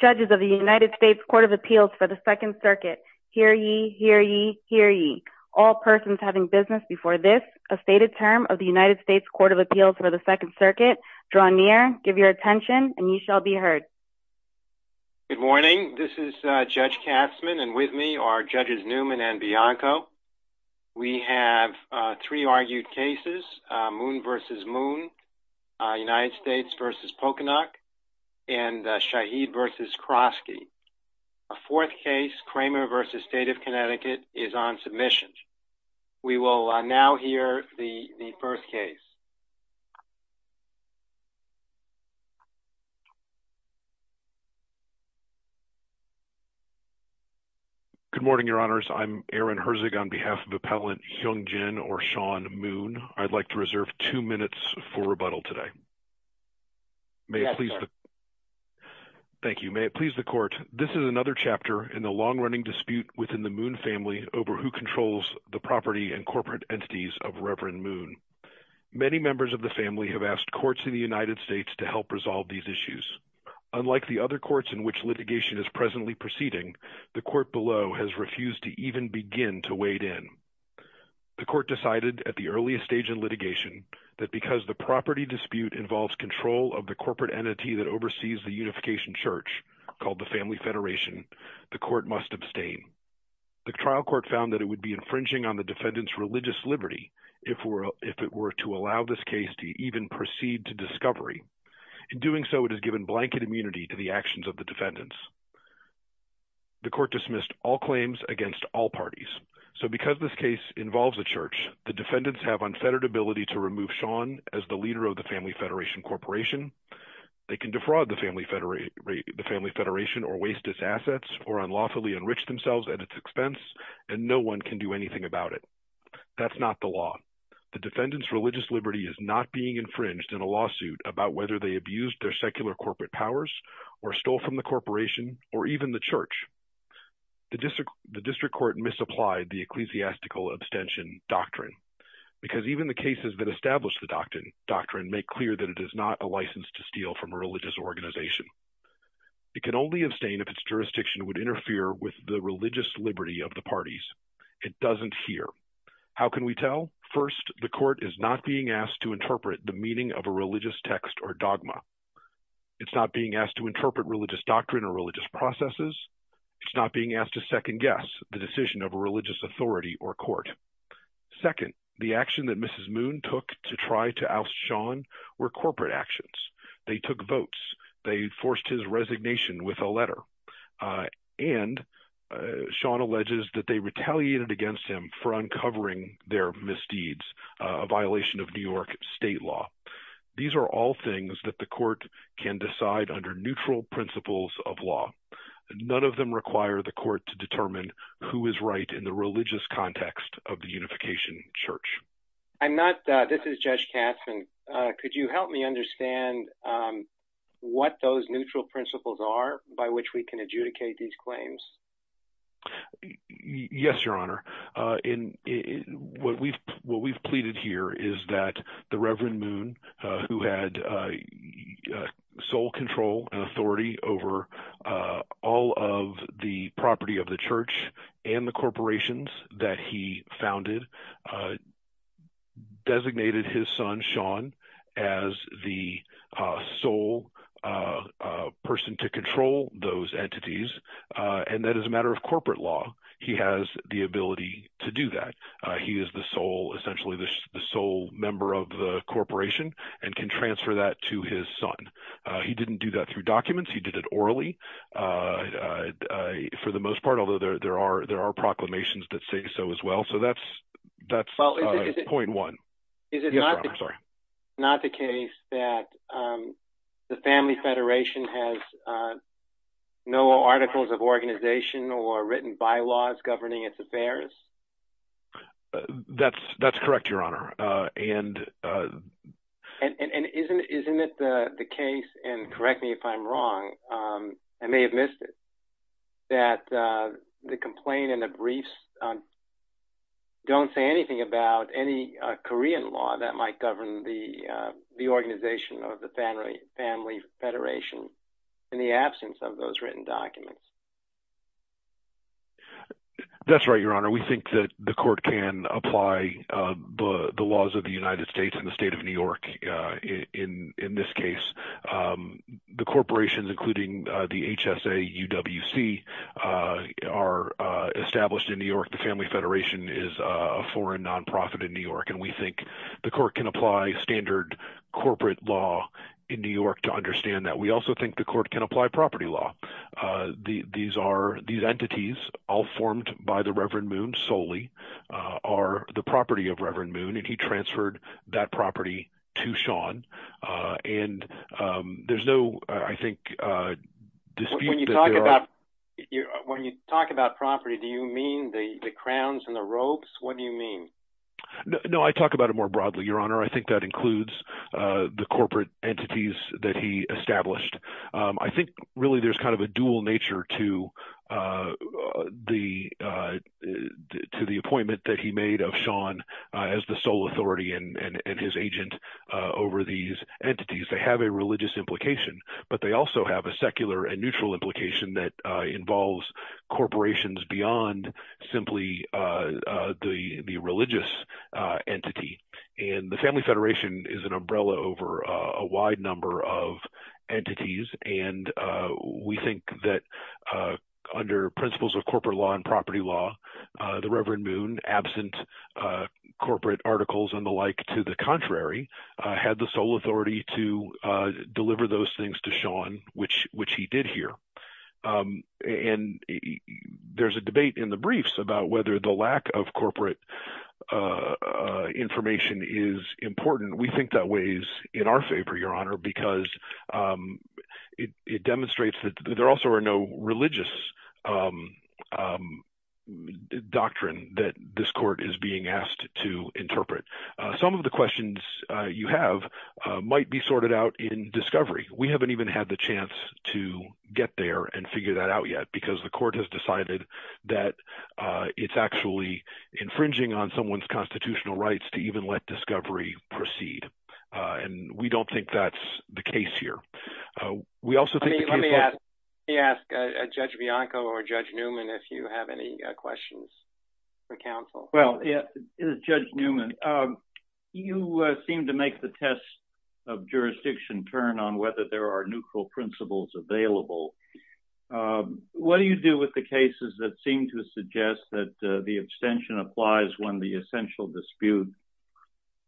Judges of the United States Court of Appeals for the Second Circuit, hear ye, hear ye, hear ye. All persons having business before this, a stated term of the United States Court of Appeals for the Second Circuit, draw near, give your attention, and ye shall be heard. Good morning, this is Judge Kastman, and with me are Judges Newman and Bianco. We have three and Shaheed v. Krosky. A fourth case, Kramer v. State of Connecticut, is on submission. We will now hear the first case. Good morning, Your Honors. I'm Aaron Herzig on behalf of Appellant Heung-Jin or Sean Moon. I'd like to reserve two minutes for rebuttal today. Thank you. May it please the Court, this is another chapter in the long-running dispute within the Moon family over who controls the property and corporate entities of Reverend Moon. Many members of the family have asked courts in the United States to help resolve these issues. Unlike the other courts in which litigation is presently proceeding, the court below has refused to even begin to wade in. The court decided at the earliest stage in litigation that because the property dispute involves control of the corporate entity that oversees the Unification Church, called the Family Federation, the court must abstain. The trial court found that it would be infringing on the defendant's religious liberty if it were to allow this case to even proceed to discovery. In doing so, it has given blanket immunity to the actions of the defendants. The court dismissed all claims against all parties. So because this case involves a church, the defendants have unfettered ability to remove Sean as the leader of the Family Federation Corporation. They can defraud the Family Federation or waste its assets or unlawfully enrich themselves at its expense, and no one can do anything about it. That's not the law. The defendant's religious liberty is not being infringed in a lawsuit about whether they abused their secular corporate powers or stole from the corporation or even the church. The district court misapplied the ecclesiastical abstention doctrine, because even the cases that establish the doctrine make clear that it is not a license to steal from a religious organization. It can only abstain if its jurisdiction would interfere with the religious liberty of the parties. It doesn't here. How can we tell? First, the court is not being asked to interpret the religious text or dogma. It's not being asked to interpret religious doctrine or religious processes. It's not being asked to second guess the decision of a religious authority or court. Second, the action that Mrs. Moon took to try to oust Sean were corporate actions. They took votes. They forced his resignation with a letter. And Sean alleges that they retaliated against him for uncovering their misdeeds, a violation of New York state law. These are all things that the court can decide under neutral principles of law. None of them require the court to determine who is right in the religious context of the unification church. I'm not. This is Judge Katzman. Could you help me understand what those neutral principles are by which we can adjudicate these claims? Yes, Your Honor. And what we've what we've pleaded here is that the Reverend Moon, who had sole control and authority over all of the property of the church and the corporations that he founded, designated his son Sean as the sole person to control those entities. And that is a matter of corporate law. He has the ability to do that. He is the sole, essentially the sole member of the corporation and can transfer that to his son. He didn't do that through documents. He did it orally for the most part, although there are there are proclamations that say so as well. So that's that's point one. Is it not the case that the Family Federation has no articles of organization or written bylaws governing its affairs? That's that's correct, Your Honor. And and isn't isn't it the case? And correct me if I'm wrong. I may have missed it, that the complaint and the briefs don't say anything about any Korean law that might govern the the organization of the Family Federation in the absence of those written documents. That's right, Your Honor, we think that the court can apply the laws of the United the HSA, UWC are established in New York. The Family Federation is a foreign nonprofit in New York, and we think the court can apply standard corporate law in New York to understand that. We also think the court can apply property law. These are these entities all formed by the Reverend Moon solely are the property of Reverend Moon, and he transferred that property to Sean. And there's no, I think, when you talk about property, do you mean the crowns and the ropes? What do you mean? No, I talk about it more broadly, Your Honor. I think that includes the corporate entities that he established. I think really, there's kind of a dual nature to the appointment that he made of Sean as the sole authority and his agent over these entities. They have a religious implication, but they also have a secular and neutral implication that involves corporations beyond simply the religious entity. And the Family Federation is an umbrella over a wide number of entities. And we think that under principles of corporate law and property law, the Reverend Moon, absent corporate articles and the like, to the contrary, had the sole authority to deliver those things to Sean, which he did here. And there's a debate in the briefs about whether the lack of corporate information is important. We think that weighs in our favor, Your Honor, because it demonstrates that there also are no religious doctrine that this court is being asked to interpret. Some of the questions you have might be sorted out in discovery. We haven't even had the chance to get there and figure that out because the court has decided that it's actually infringing on someone's constitutional rights to even let discovery proceed. And we don't think that's the case here. We also think... Let me ask Judge Bianco or Judge Newman if you have any questions for counsel. Well, Judge Newman, you seem to make the test of jurisdiction turn on whether there are neutral principles available. What do you do with the cases that seem to suggest that the abstention applies when the essential dispute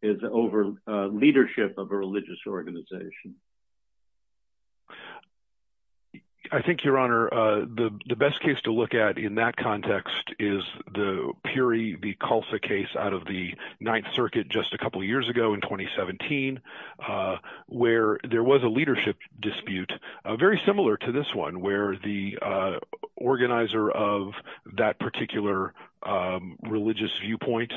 is over leadership of a religious organization? I think, Your Honor, the best case to look at in that context is the Puri v. Calsa case out of the very similar to this one where the organizer of that particular religious viewpoint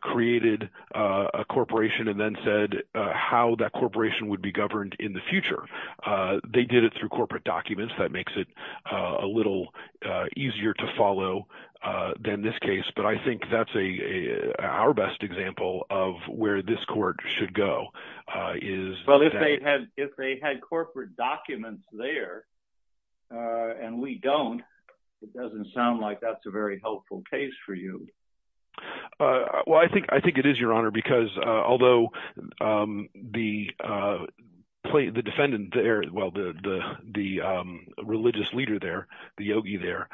created a corporation and then said how that corporation would be governed in the future. They did it through corporate documents. That makes it a little easier to follow than this case. But I think that's our best example of where this court should go is... If there are no documents there and we don't, it doesn't sound like that's a very helpful case for you. Well, I think it is, Your Honor, because although the defendant there, well, the religious leader there, the yogi there,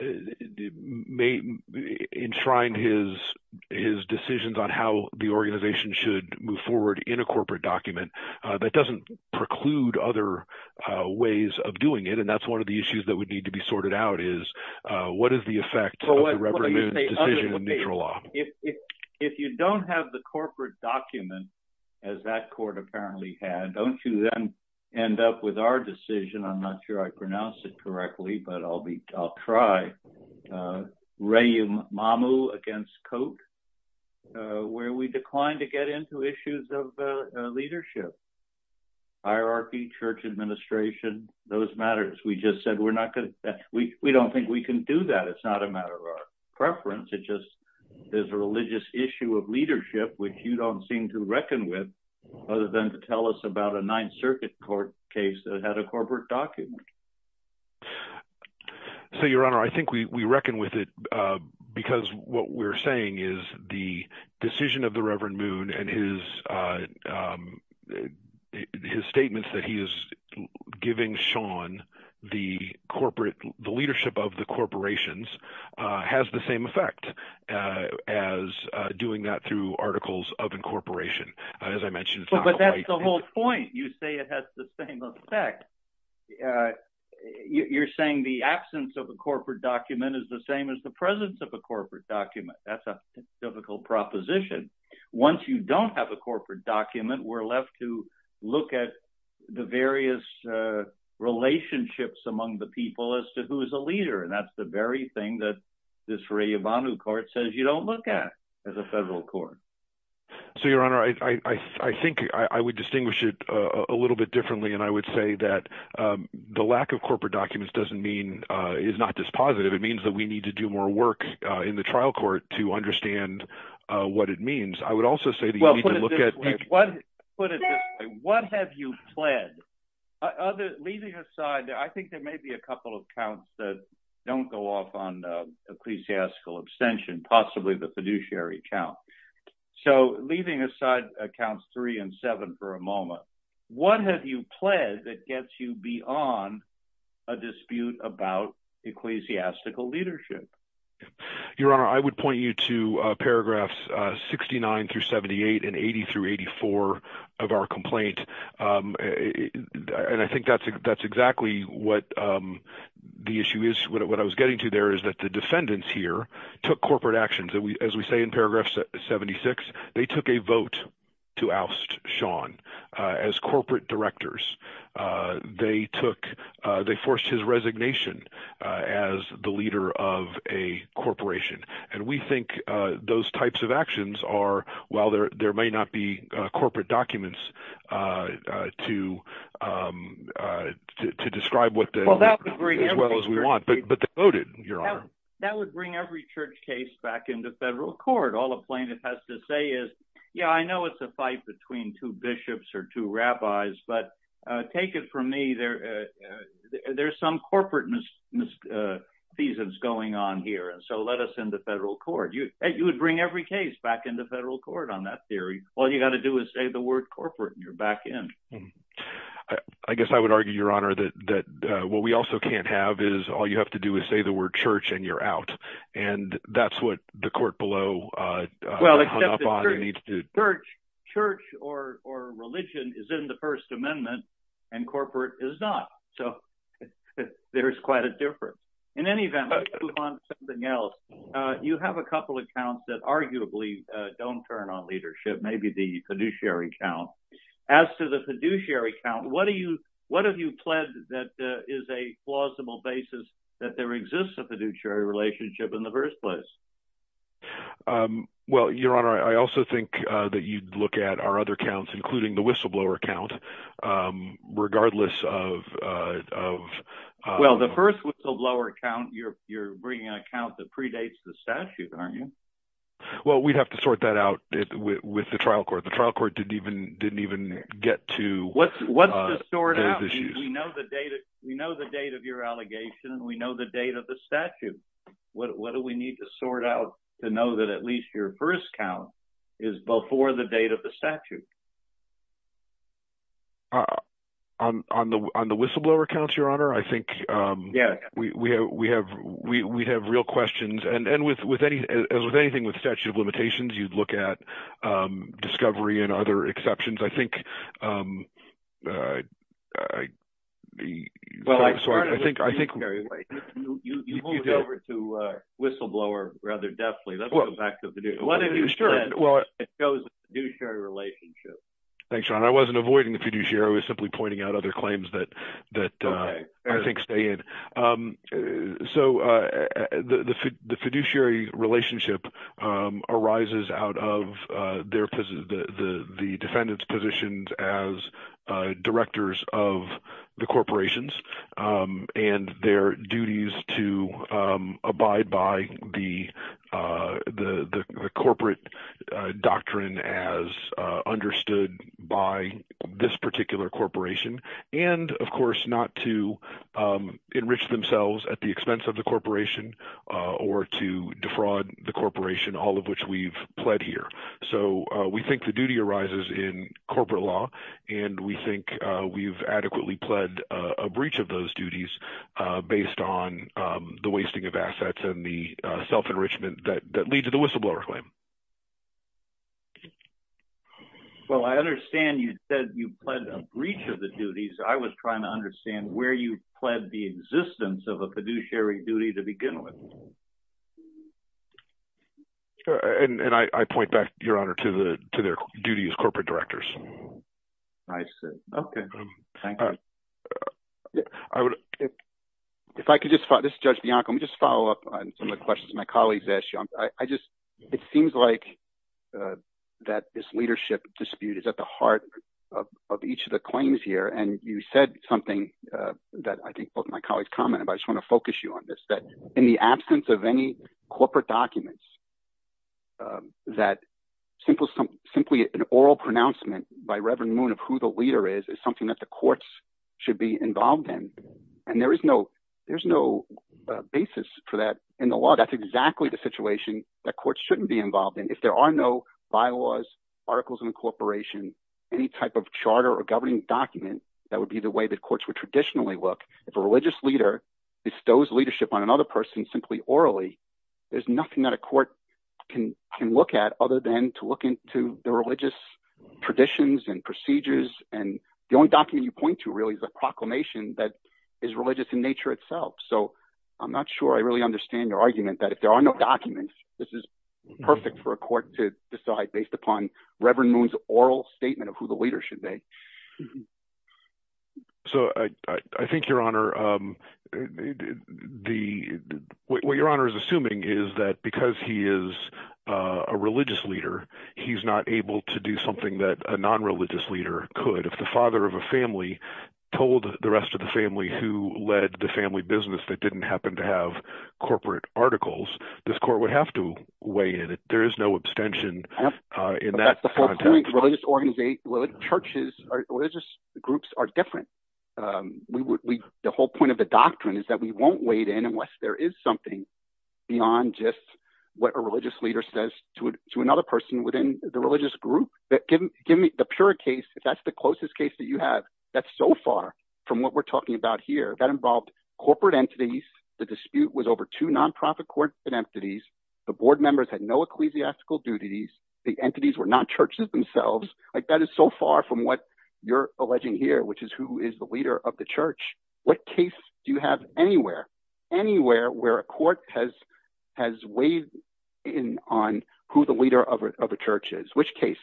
enshrined his decisions on how the organization should move forward in a corporate document, that doesn't preclude other ways of doing it. And that's one of the issues that would need to be sorted out is what is the effect of the Reverend Moon's decision in neutral law? If you don't have the corporate document, as that court apparently had, don't you then end up with our decision? I'm not sure I pronounced it correctly, but I'll try. Rehumamu against Coate, where we declined to get into issues of leadership, hierarchy, church administration, those matters. We just said we're not going to... We don't think we can do that. It's not a matter of our preference. It just is a religious issue of leadership, which you don't seem to reckon with other than to tell us about a Ninth Circuit court case that had a corporate document. So Your Honor, I think we reckon with it because what we're saying is the decision of the Reverend Moon and his statements that he is giving Sean the corporate – the leadership of the corporations – has the same effect as doing that through articles of incorporation. As I said, you're saying the absence of a corporate document is the same as the presence of a corporate document. That's a typical proposition. Once you don't have a corporate document, we're left to look at the various relationships among the people as to who is a leader. And that's the very thing that this Rehumamu court says you don't look at as a federal court. So Your Honor, I think I would distinguish it a little bit differently, and I would say that the lack of corporate documents doesn't mean – is not dispositive. It means that we need to do more work in the trial court to understand what it means. I would also say that you need to look at... Well, put it this way. What have you pled? Leaving aside, I think there may be a couple of counts that don't go off on ecclesiastical abstention, possibly the fiduciary count. So leaving aside accounts three and seven for a moment, what have you pled that gets you beyond a dispute about ecclesiastical leadership? Your Honor, I would point you to paragraphs 69 through 78 and 80 through 84 of our complaint. And I think that's exactly what the issue is. What I was getting to there is that the defendants here took corporate actions. As we say in paragraph 76, they took a vote to oust Sean as corporate directors. They forced his resignation as the leader of a corporation. And we think those types of actions are – while there may not be corporate documents to describe as well as we would want, but they voted, Your Honor. That would bring every church case back into federal court. All a plaintiff has to say is, yeah, I know it's a fight between two bishops or two rabbis, but take it from me, there's some corporate misfeasance going on here. And so let us in the federal court. You would bring every case back into federal court on that theory. All you got to do is say the word corporate and you're back in. I guess I would argue, Your Honor, that what we also can't have is all you have to do is say the word church and you're out. And that's what the court below hung up on and needs to do. Church or religion is in the First Amendment and corporate is not. So there's quite a difference. In any event, let's move on to something else. You have a couple of accounts that arguably don't turn on leadership, maybe the fiduciary account. As to the fiduciary account, what have you pledged that is a plausible basis that there exists a fiduciary relationship in the first place? Well, Your Honor, I also think that you'd look at our other accounts, including the whistleblower account, regardless of... Well, the first whistleblower account, you're bringing an account that predates the statute, aren't you? Well, we'd have to sort that out with the trial court. The trial court didn't even get to those issues. What's to sort out? We know the date of your allegation and we know the date of the statute. What do we need to sort out to know that at least your first count is before the date of the statute? On the whistleblower accounts, Your Honor, I think we have real questions. And as with anything with statute of limitations, you'd look at discovery and other exceptions. I think... Well, I started with fiduciary. Wait. You moved over to whistleblower rather deftly. Let's go back to fiduciary. What have you pledged that shows a fiduciary relationship? Thanks, Your Honor. I wasn't avoiding the fiduciary. I was simply pointing out other claims that I think stay in. So, the fiduciary relationship arises out of the defendant's positions as directors of the corporations and their duties to abide by the corporate doctrine as understood by this particular corporation. And of course, not to enrich themselves at the expense of the corporation or to defraud the corporation, all of which we've pled here. So, we think the duty arises in corporate law and we think we've adequately pled a breach of those duties based on the wasting of assets and the self-enrichment that leads to the whistleblower claim. Well, I understand you said you pled a breach of the duties. I was trying to understand where you pled the existence of a fiduciary duty to begin with. And I point back, Your Honor, to their duties as corporate directors. I see. Okay. Thank you. Judge Bianco, let me just follow up on some of the questions my colleagues asked you. It seems like that this leadership dispute is at the heart of each of the claims here, and you said something that I think both of my colleagues commented, but I just want to focus you on this, that in the absence of any corporate documents, that simply an oral pronouncement by Reverend Moon of who the leader is, is something that the courts should be involved in. And there is no basis for that in the law. That's exactly the situation that courts shouldn't be involved in. If there are no bylaws, articles of incorporation, any type of charter or governing document, that would be the way that courts would traditionally look. If a religious leader bestows leadership on another person simply orally, there's nothing that a court can look at other than to look into the religious traditions and procedures. And the only document you point to really is a proclamation that is religious in nature itself. So I'm not sure I really understand your argument that if there are no documents, this is perfect for a court to decide based upon Reverend Moon's oral statement of who the leader is. What Your Honor is assuming is that because he is a religious leader, he's not able to do something that a non-religious leader could. If the father of a family told the rest of the family who led the family business that didn't happen to have corporate articles, this court would have to weigh in. There is no abstention in that context. That's the whole point. Religious groups are different. The whole point of the doctrine is that we won't weigh in unless there is something beyond just what a religious leader says to another person within the religious group. But give me the pure case, if that's the closest case that you have, that's so far from what we're talking about here. That involved corporate entities. The dispute was over two non-profit corporate entities. The board members had no ecclesiastical duties. The entities were not themselves. That is so far from what you're alleging here, which is who is the leader of the church. What case do you have anywhere, anywhere where a court has weighed in on who the leader of a church is? Which case?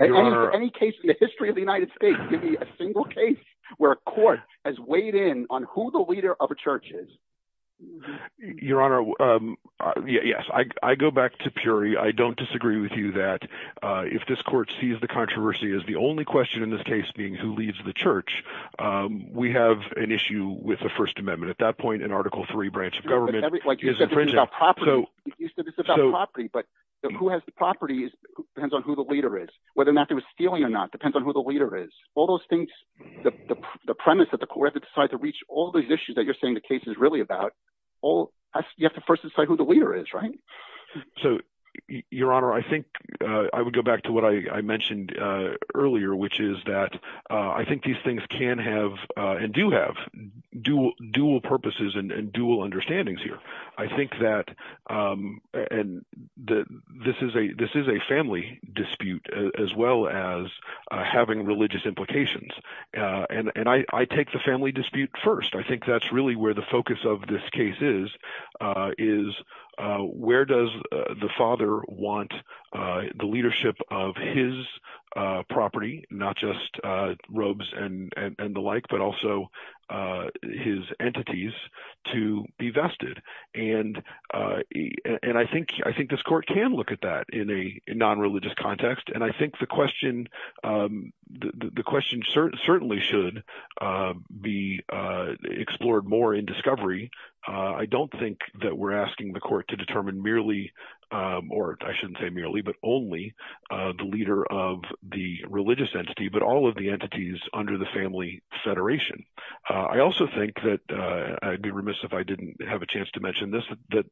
Any case in the history of the United States, give me a single case where a court has weighed in on who the leader of a church is. Your Honor, yes. I go back to Puri. I don't disagree with you that if this court sees the controversy as the only question in this case being who leads the church, we have an issue with the First Amendment. At that point, an Article III branch of government is infringing. You said it's about property, but who has the property depends on who the leader is. Whether or not they were stealing or not depends on who the leader is. All those things, the premise that the court had to decide to reach all these issues that you're saying the case is about, you have to first decide who the leader is, right? Your Honor, I think I would go back to what I mentioned earlier, which is that I think these things can have and do have dual purposes and dual understandings here. I think that this is a family dispute as well as having religious implications. I take the family dispute first. I think that's really where the focus of this case is, is where does the father want the leadership of his property, not just robes and the like, but also his entities to be vested. I think this court can look at that in a non-religious context. I think the question certainly should be explored more in discovery. I don't think that we're asking the court to determine merely, or I shouldn't say merely, but only the leader of the religious entity, but all of the entities under the family federation. I also think that I'd be remiss if I didn't have a chance to mention this, that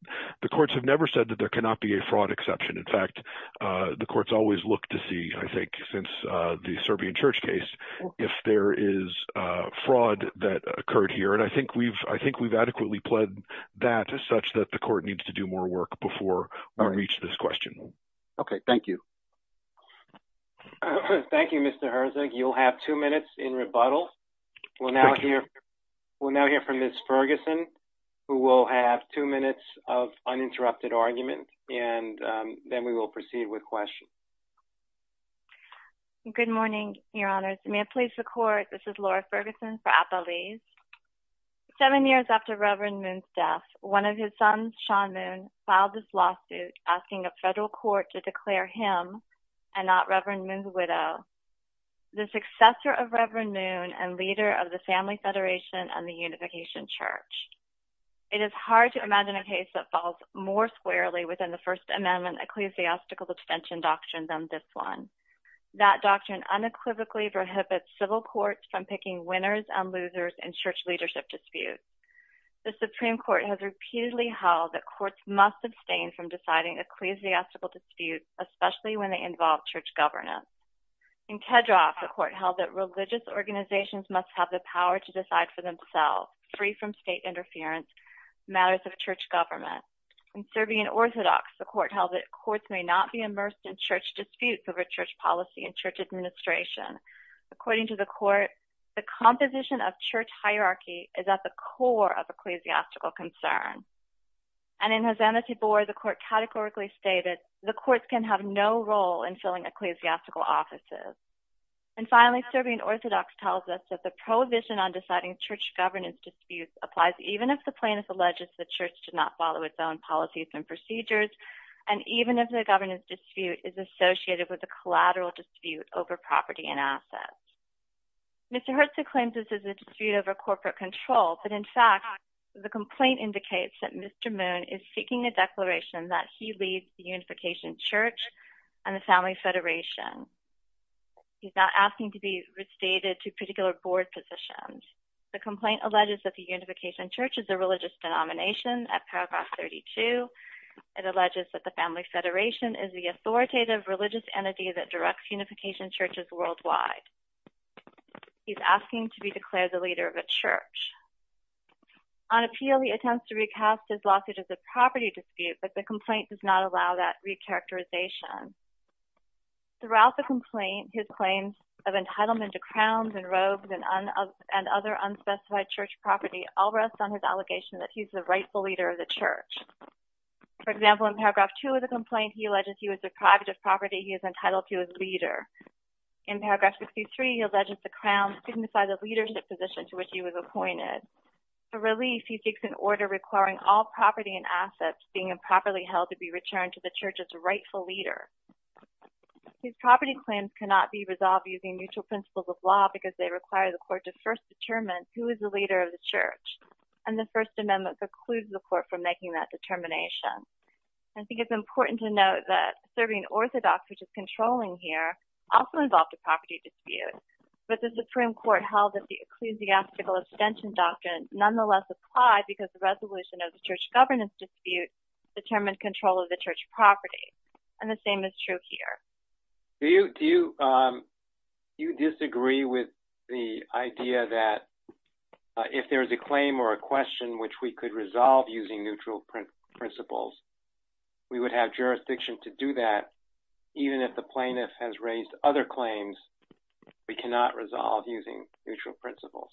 the courts have never said that there cannot be a fraud exception. In fact, the courts always look to see, I think, since the Serbian Church case, if there is fraud that occurred here. I think we've adequately pledged that such that the court needs to do more work before we reach this question. Okay. Thank you. Thank you, Mr. Herzog. You'll have two minutes in rebuttal. We'll now hear from Ms. Ferguson, who will have two minutes of uninterrupted argument, and then we will proceed with questions. Good morning, Your Honors. May it please the Court, this is Laura Ferguson for Appalese. Seven years after Reverend Moon's death, one of his sons, Sean Moon, filed this lawsuit asking a federal court to declare him, and not Reverend Moon's widow, the successor of Reverend Moon and leader of the Family Federation and the Unification Church. It is hard to imagine a case that falls more squarely within the First Amendment ecclesiastical abstention doctrine than this one. That doctrine unequivocally prohibits civil courts from picking winners and losers in church leadership disputes. The Supreme Court has repeatedly held that courts must abstain from deciding ecclesiastical disputes, especially when they involve church governance. In Kedroff, the court held that religious organizations must have the power to decide for themselves, free from state interference, matters of church government. In Serbian Orthodox, the court held that courts may not be immersed in church disputes over church policy and church administration. According to the court, the composition of church hierarchy is at the core of ecclesiastical concern. And in Hosanna Tibor, the court categorically stated the courts can have no role in filling ecclesiastical offices. And finally, Serbian Orthodox tells us that the applies even if the plaintiff alleges the church should not follow its own policies and procedures, and even if the governance dispute is associated with a collateral dispute over property and assets. Mr. Herzog claims this is a dispute over corporate control, but in fact, the complaint indicates that Mr. Moon is seeking a declaration that he leads the Unification Church and the Family Federation. He's not asking to be restated to particular board positions. The complaint alleges that the Unification Church is a religious denomination at paragraph 32. It alleges that the Family Federation is the authoritative religious entity that directs Unification Churches worldwide. He's asking to be declared the leader of a church. On appeal, he attempts to recast his lawsuit as a property dispute, but the complaint does not allow that recharacterization. Throughout the complaint, his claims of entitlement to church property all rest on his allegation that he's the rightful leader of the church. For example, in paragraph 2 of the complaint, he alleges he was deprived of property he is entitled to as leader. In paragraph 53, he alleges the Crown couldn't decide the leadership position to which he was appointed. For relief, he seeks an order requiring all property and assets being improperly held to be returned to the church as a rightful leader. These property claims cannot be resolved using mutual principles of law because they require the court to first determine who is the leader of the church, and the First Amendment precludes the court from making that determination. I think it's important to note that serving Orthodox, which is controlling here, also involved a property dispute, but the Supreme Court held that the ecclesiastical abstention doctrine nonetheless applied because the resolution of the church governance dispute determined control of the church property, and the same is true here. Do you disagree with the idea that if there's a claim or a question which we could resolve using neutral principles, we would have jurisdiction to do that even if the plaintiff has raised other claims we cannot resolve using neutral principles?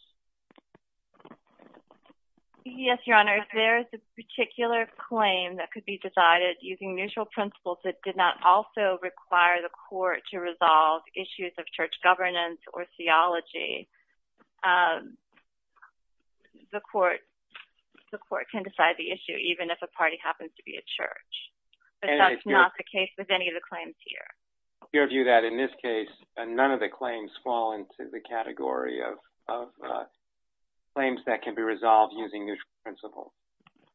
Yes, Your Honor. If there is a particular claim that could be decided using neutral principles that did not also require the court to resolve issues of church governance or theology, the court can decide the issue even if a party happens to be a church, but that's not the case with any of the claims here. Your view that in this case, none of the claims fall into the category of claims that can be resolved using neutral principles?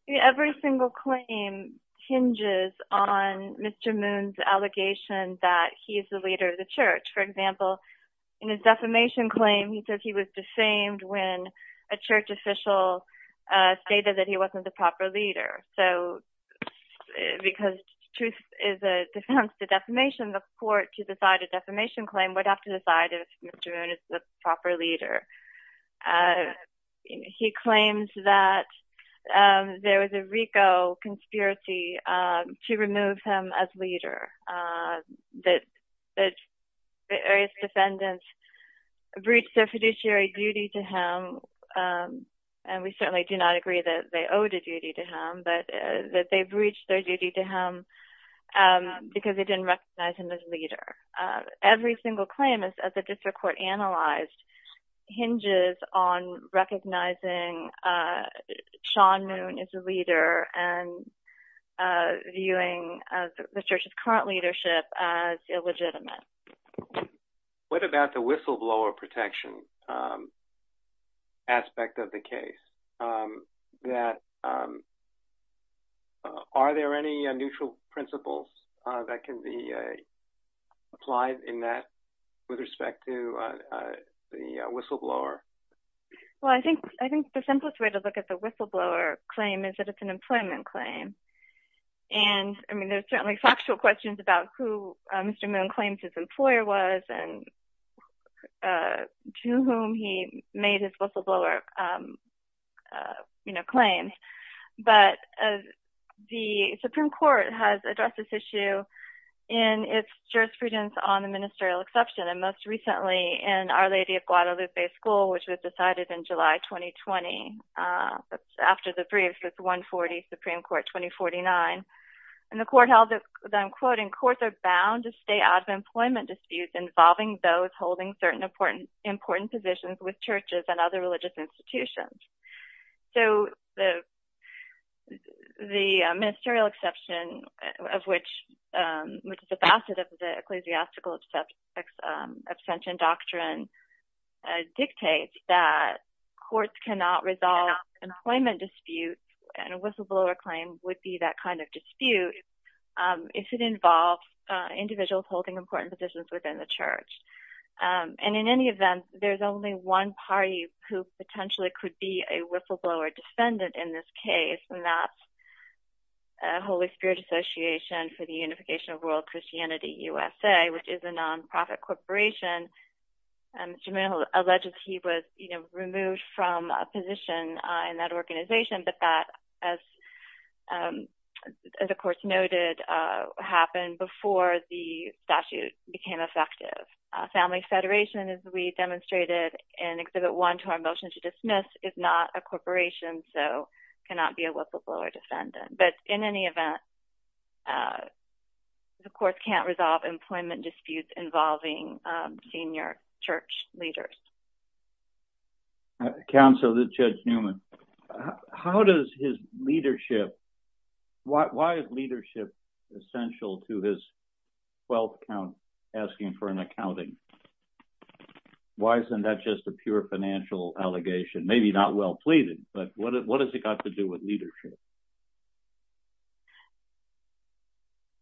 Every single claim hinges on Mr. Moon's allegation that he is the leader of the church. For example, in his defamation claim, he says he was defamed when a church official stated that he wasn't the proper leader, so because truth is a defense to defamation, the court, to decide a defamation claim, would have to decide if Mr. Moon is the proper leader. He claims that there was a RICO conspiracy to remove him as leader, that various defendants breached their fiduciary duty to him, and we certainly do not agree that they owed a duty to him, but that they breached their duty to him because they didn't recognize him as leader. Every single claim, as the district court analyzed, hinges on recognizing Sean Moon as a leader and viewing the church's current leadership as illegitimate. What about the whistleblower protection aspect of the case? Are there any neutral principles that can be applied in that with respect to the whistleblower? Well, I think the simplest way to look at the whistleblower claim is that it's an employment claim, and I mean, there's certainly factual questions about who Mr. Moon claims his employer was and to whom he made his whistleblower claims, but the Supreme Court has addressed this issue in its jurisprudence on the ministerial exception, and most recently in Our Lady of Guadalupe School, which was decided in July 2020. That's after the brief with 140 Supreme Court 2049, and the court held that, I'm quoting, courts are bound to stay out of employment disputes involving those holding certain important positions with churches and other religious institutions. So the ministerial exception, which is a facet of the ecclesiastical abstention doctrine, dictates that courts cannot resolve employment disputes, and a whistleblower claim would be that kind of dispute if it involves individuals holding important positions within the church. And in any event, there's only one party who potentially could be a whistleblower descendant in this case, and that's Holy Spirit Association for the Unification of World Christianity USA, which is a nonprofit corporation. Mr. Moon alleges he was removed from a position in that organization, but that, as the court noted, happened before the statute became effective. Family Federation, as we demonstrated in Exhibit 1 to our motion to dismiss, is not a corporation, and so cannot be a whistleblower defendant. But in any event, the court can't resolve employment disputes involving senior church leaders. Counsel to Judge Newman, how does his leadership, why is leadership essential to his 12th count asking for an accounting? Why isn't that just a pure financial allegation? Maybe not well pleaded, but what has it got to do with leadership?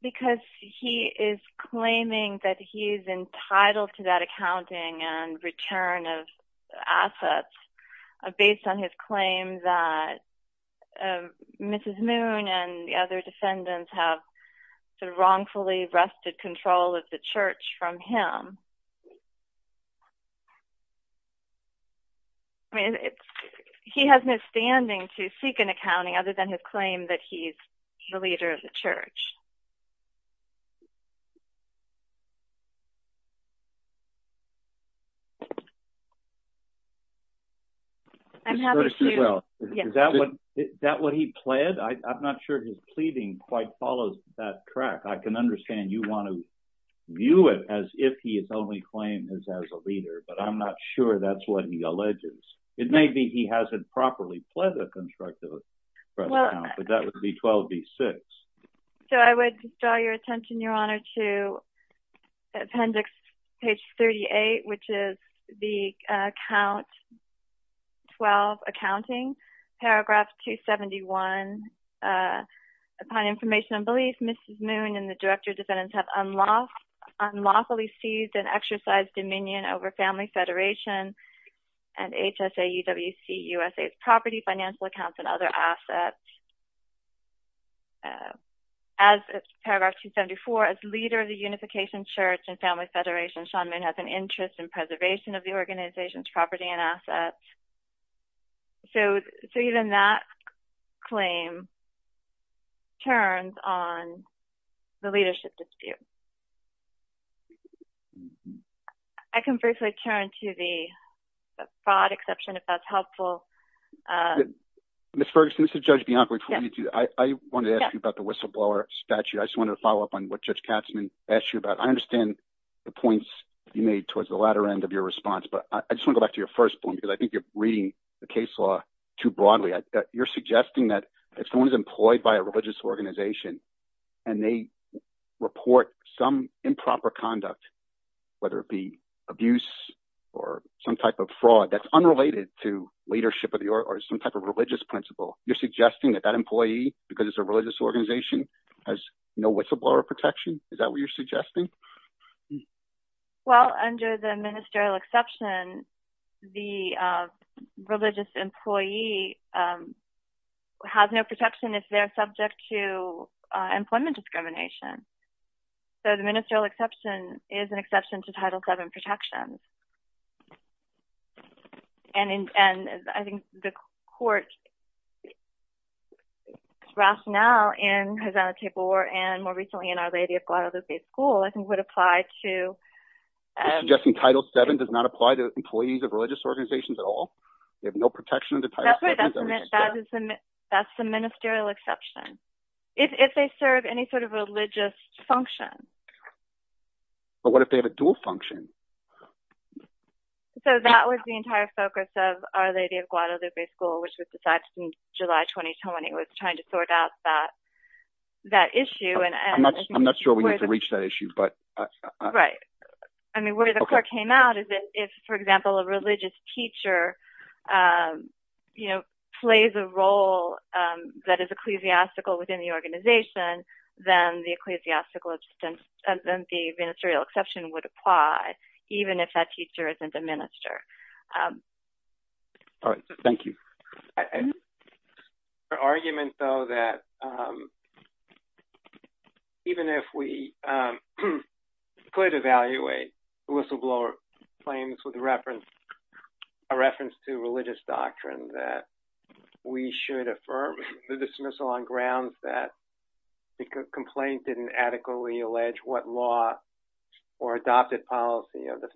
Because he is claiming that he's entitled to that accounting and return of assets based on his claim that Mrs. Moon and the other defendants have wrongfully wrested control of the church from him. I mean, he has no standing to seek an accounting other than his claim that he's the leader of the church. I'm happy to... Well, is that what he pled? I'm not sure his pleading quite follows that track. I can only claim his as a leader, but I'm not sure that's what he alleges. It may be he hasn't properly pled a constructive 12th count, but that would be 12B6. So I would draw your attention, Your Honor, to appendix page 38, which is the count 12, accounting, paragraph 271. Upon information and belief, Mrs. Moon and the director defendants have unlawfully seized and exercised dominion over Family Federation and HSAEWC USA's property, financial accounts, and other assets. As paragraph 274, as leader of the Unification Church and Family Federation, Sean Moon has an interest in preservation of the organization's property and I can briefly turn to the fraud exception, if that's helpful. Ms. Ferguson, this is Judge Bianco. I wanted to ask you about the whistleblower statute. I just wanted to follow up on what Judge Katzman asked you about. I understand the points you made towards the latter end of your response, but I just want to go back to your first point, because I think you're reading the case law too broadly. You're suggesting that if someone is employed by a some improper conduct, whether it be abuse or some type of fraud that's unrelated to leadership or some type of religious principle, you're suggesting that that employee, because it's a religious organization, has no whistleblower protection? Is that what you're suggesting? Well, under the ministerial exception, the religious employee has no protection if they're subject to employment discrimination. So the ministerial exception is an exception to Title VII protections. And I think the court's rationale in Havana Table War, and more recently in Our Lady of Guadalupe School, I think would apply to... You're suggesting Title VII does not apply to employees of religious organizations at all? They have no protection under Title VII? That's the ministerial exception. If they serve any sort of religious function. But what if they have a dual function? So that was the entire focus of Our Lady of Guadalupe School, which was decided in July 2020. It was trying to sort out that issue. I'm not sure we need to reach that issue, but... Right. I mean, where the court came out is that if, for example, a religious teacher plays a role that is ecclesiastical within the organization, then the ministerial exception would apply, even if that teacher isn't a minister. All right. Thank you. I think the argument, though, that even if we could evaluate whistleblower claims with a reference to religious doctrine, that we should affirm the dismissal on grounds that the complaint didn't adequately allege what law or adopted policy of the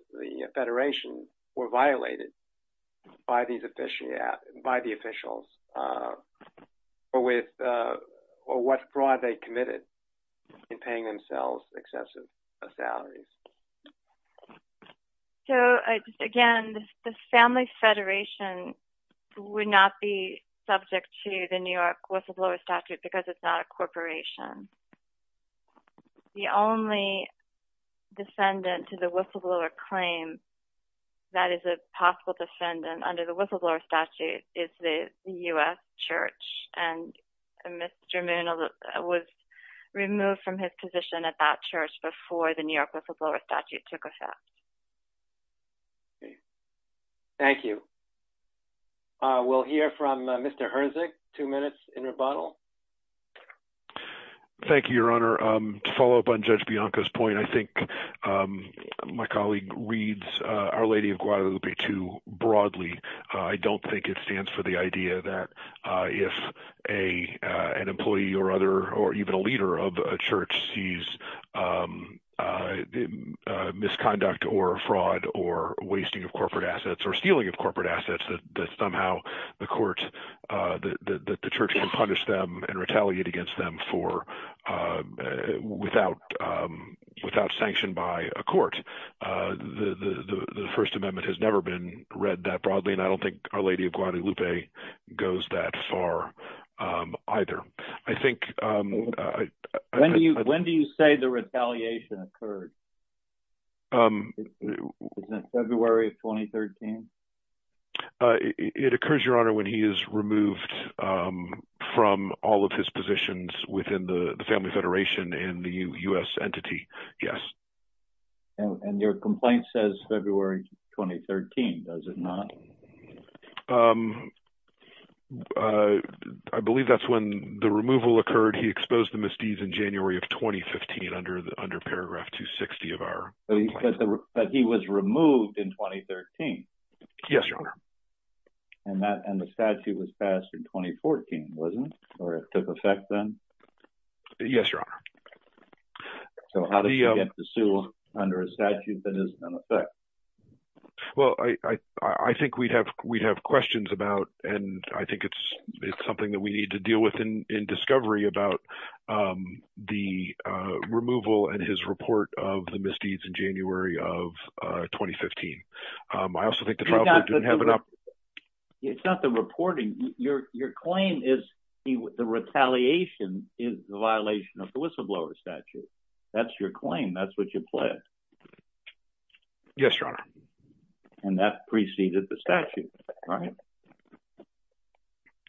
federation were violated by the officials, or what fraud they committed in paying themselves excessive salaries. So, again, the Family Federation would not be subject to the New York whistleblower statute because it's not a corporation. The only defendant to the whistleblower claim that is a possible defendant under the whistleblower statute is the U.S. Church, and Mr. Moon was removed from his position at that church before the New York whistleblower statute took place. Thank you. We'll hear from Mr. Herzog, two minutes in rebuttal. Thank you, Your Honor. To follow up on Judge Bianca's point, I think my colleague reads Our Lady of Guadalupe II broadly. I don't think it stands for the idea that if an employee or other, leader of a church sees misconduct or fraud or wasting of corporate assets or stealing of corporate assets, that somehow the church can punish them and retaliate against them without sanction by a court. The First Amendment has never been read that broadly, and I don't think Our Lady of Guadalupe goes that far either. When do you say the retaliation occurred? Was that February of 2013? It occurs, Your Honor, when he is removed from all of his positions within the Family Federation and the U.S. entity, yes. And your complaint says February 2013, does it not? I believe that's when the removal occurred. He exposed the misdeeds in January of 2015 under paragraph 260 of our complaint. But he was removed in 2013? Yes, Your Honor. And the statute was passed in 2014, wasn't it? Or it took effect then? Yes, Your Honor. So how did he get to sue under a statute that is in effect? Well, I think we'd have questions about, and I think it's something that we need to deal with in discovery, about the removal and his report of the misdeeds in January of 2015. I also think the trial court didn't have enough... It's not the reporting. Your claim is the retaliation is the violation of the whistleblower statute. That's your claim. That's what you pled. Yes, Your Honor. And that preceded the statute, right?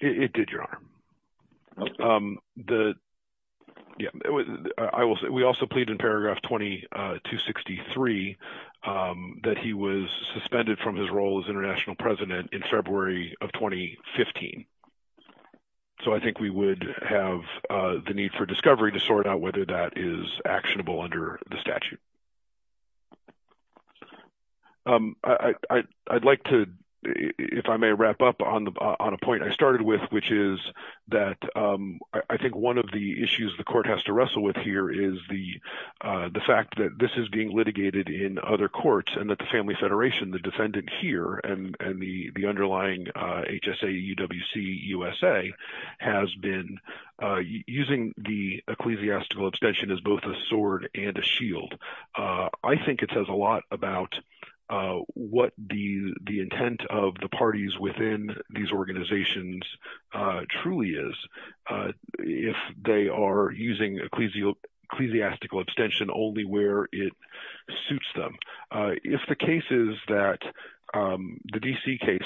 It did, Your Honor. We also plead in paragraph 2263 that he was suspended from his role as international president in February of 2015. So I think we would have the need for discovery to sort out whether that is actionable under the statute. I'd like to, if I may wrap up on a point I started with, which is that I think one of the issues the court has to wrestle with here is the fact that this is being litigated in other courts and that the Family Federation, the defendant here, and the underlying HSA-UWC-USA has been using the ecclesiastical abstention as both a sword and a shield. I think it says a lot about what the intent of the parties within these organizations truly is if they are using ecclesiastical abstention only where it suits them. If the case is that – the D.C. case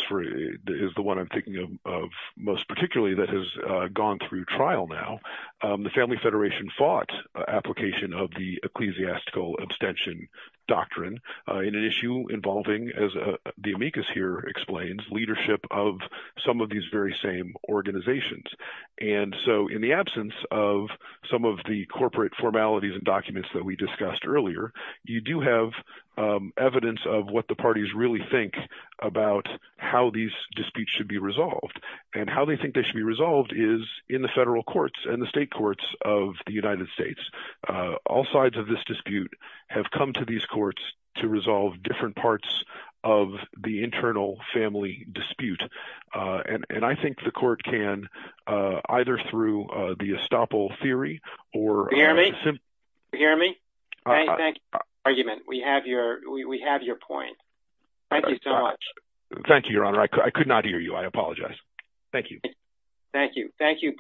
is the one I'm thinking of most particularly that has gone through trial now. The Family Federation fought application of the ecclesiastical abstention doctrine in an issue involving, as the amicus here explains, leadership of some of these very same organizations. And so in the absence of some of the corporate formalities and documents that we discussed earlier, you do have evidence of what the parties really think about how these disputes should be resolved. And how they think they should be resolved is in the federal courts and the state courts of the United States. All sides of this dispute have come to these courts to resolve different parts of the internal family dispute. And I think the court can either through the estoppel theory or – Can you hear me? Can you hear me? Thank you for your argument. We have your point. Thank you so much. Thank you, Your Honor. I could not hear you. I apologize. Thank you.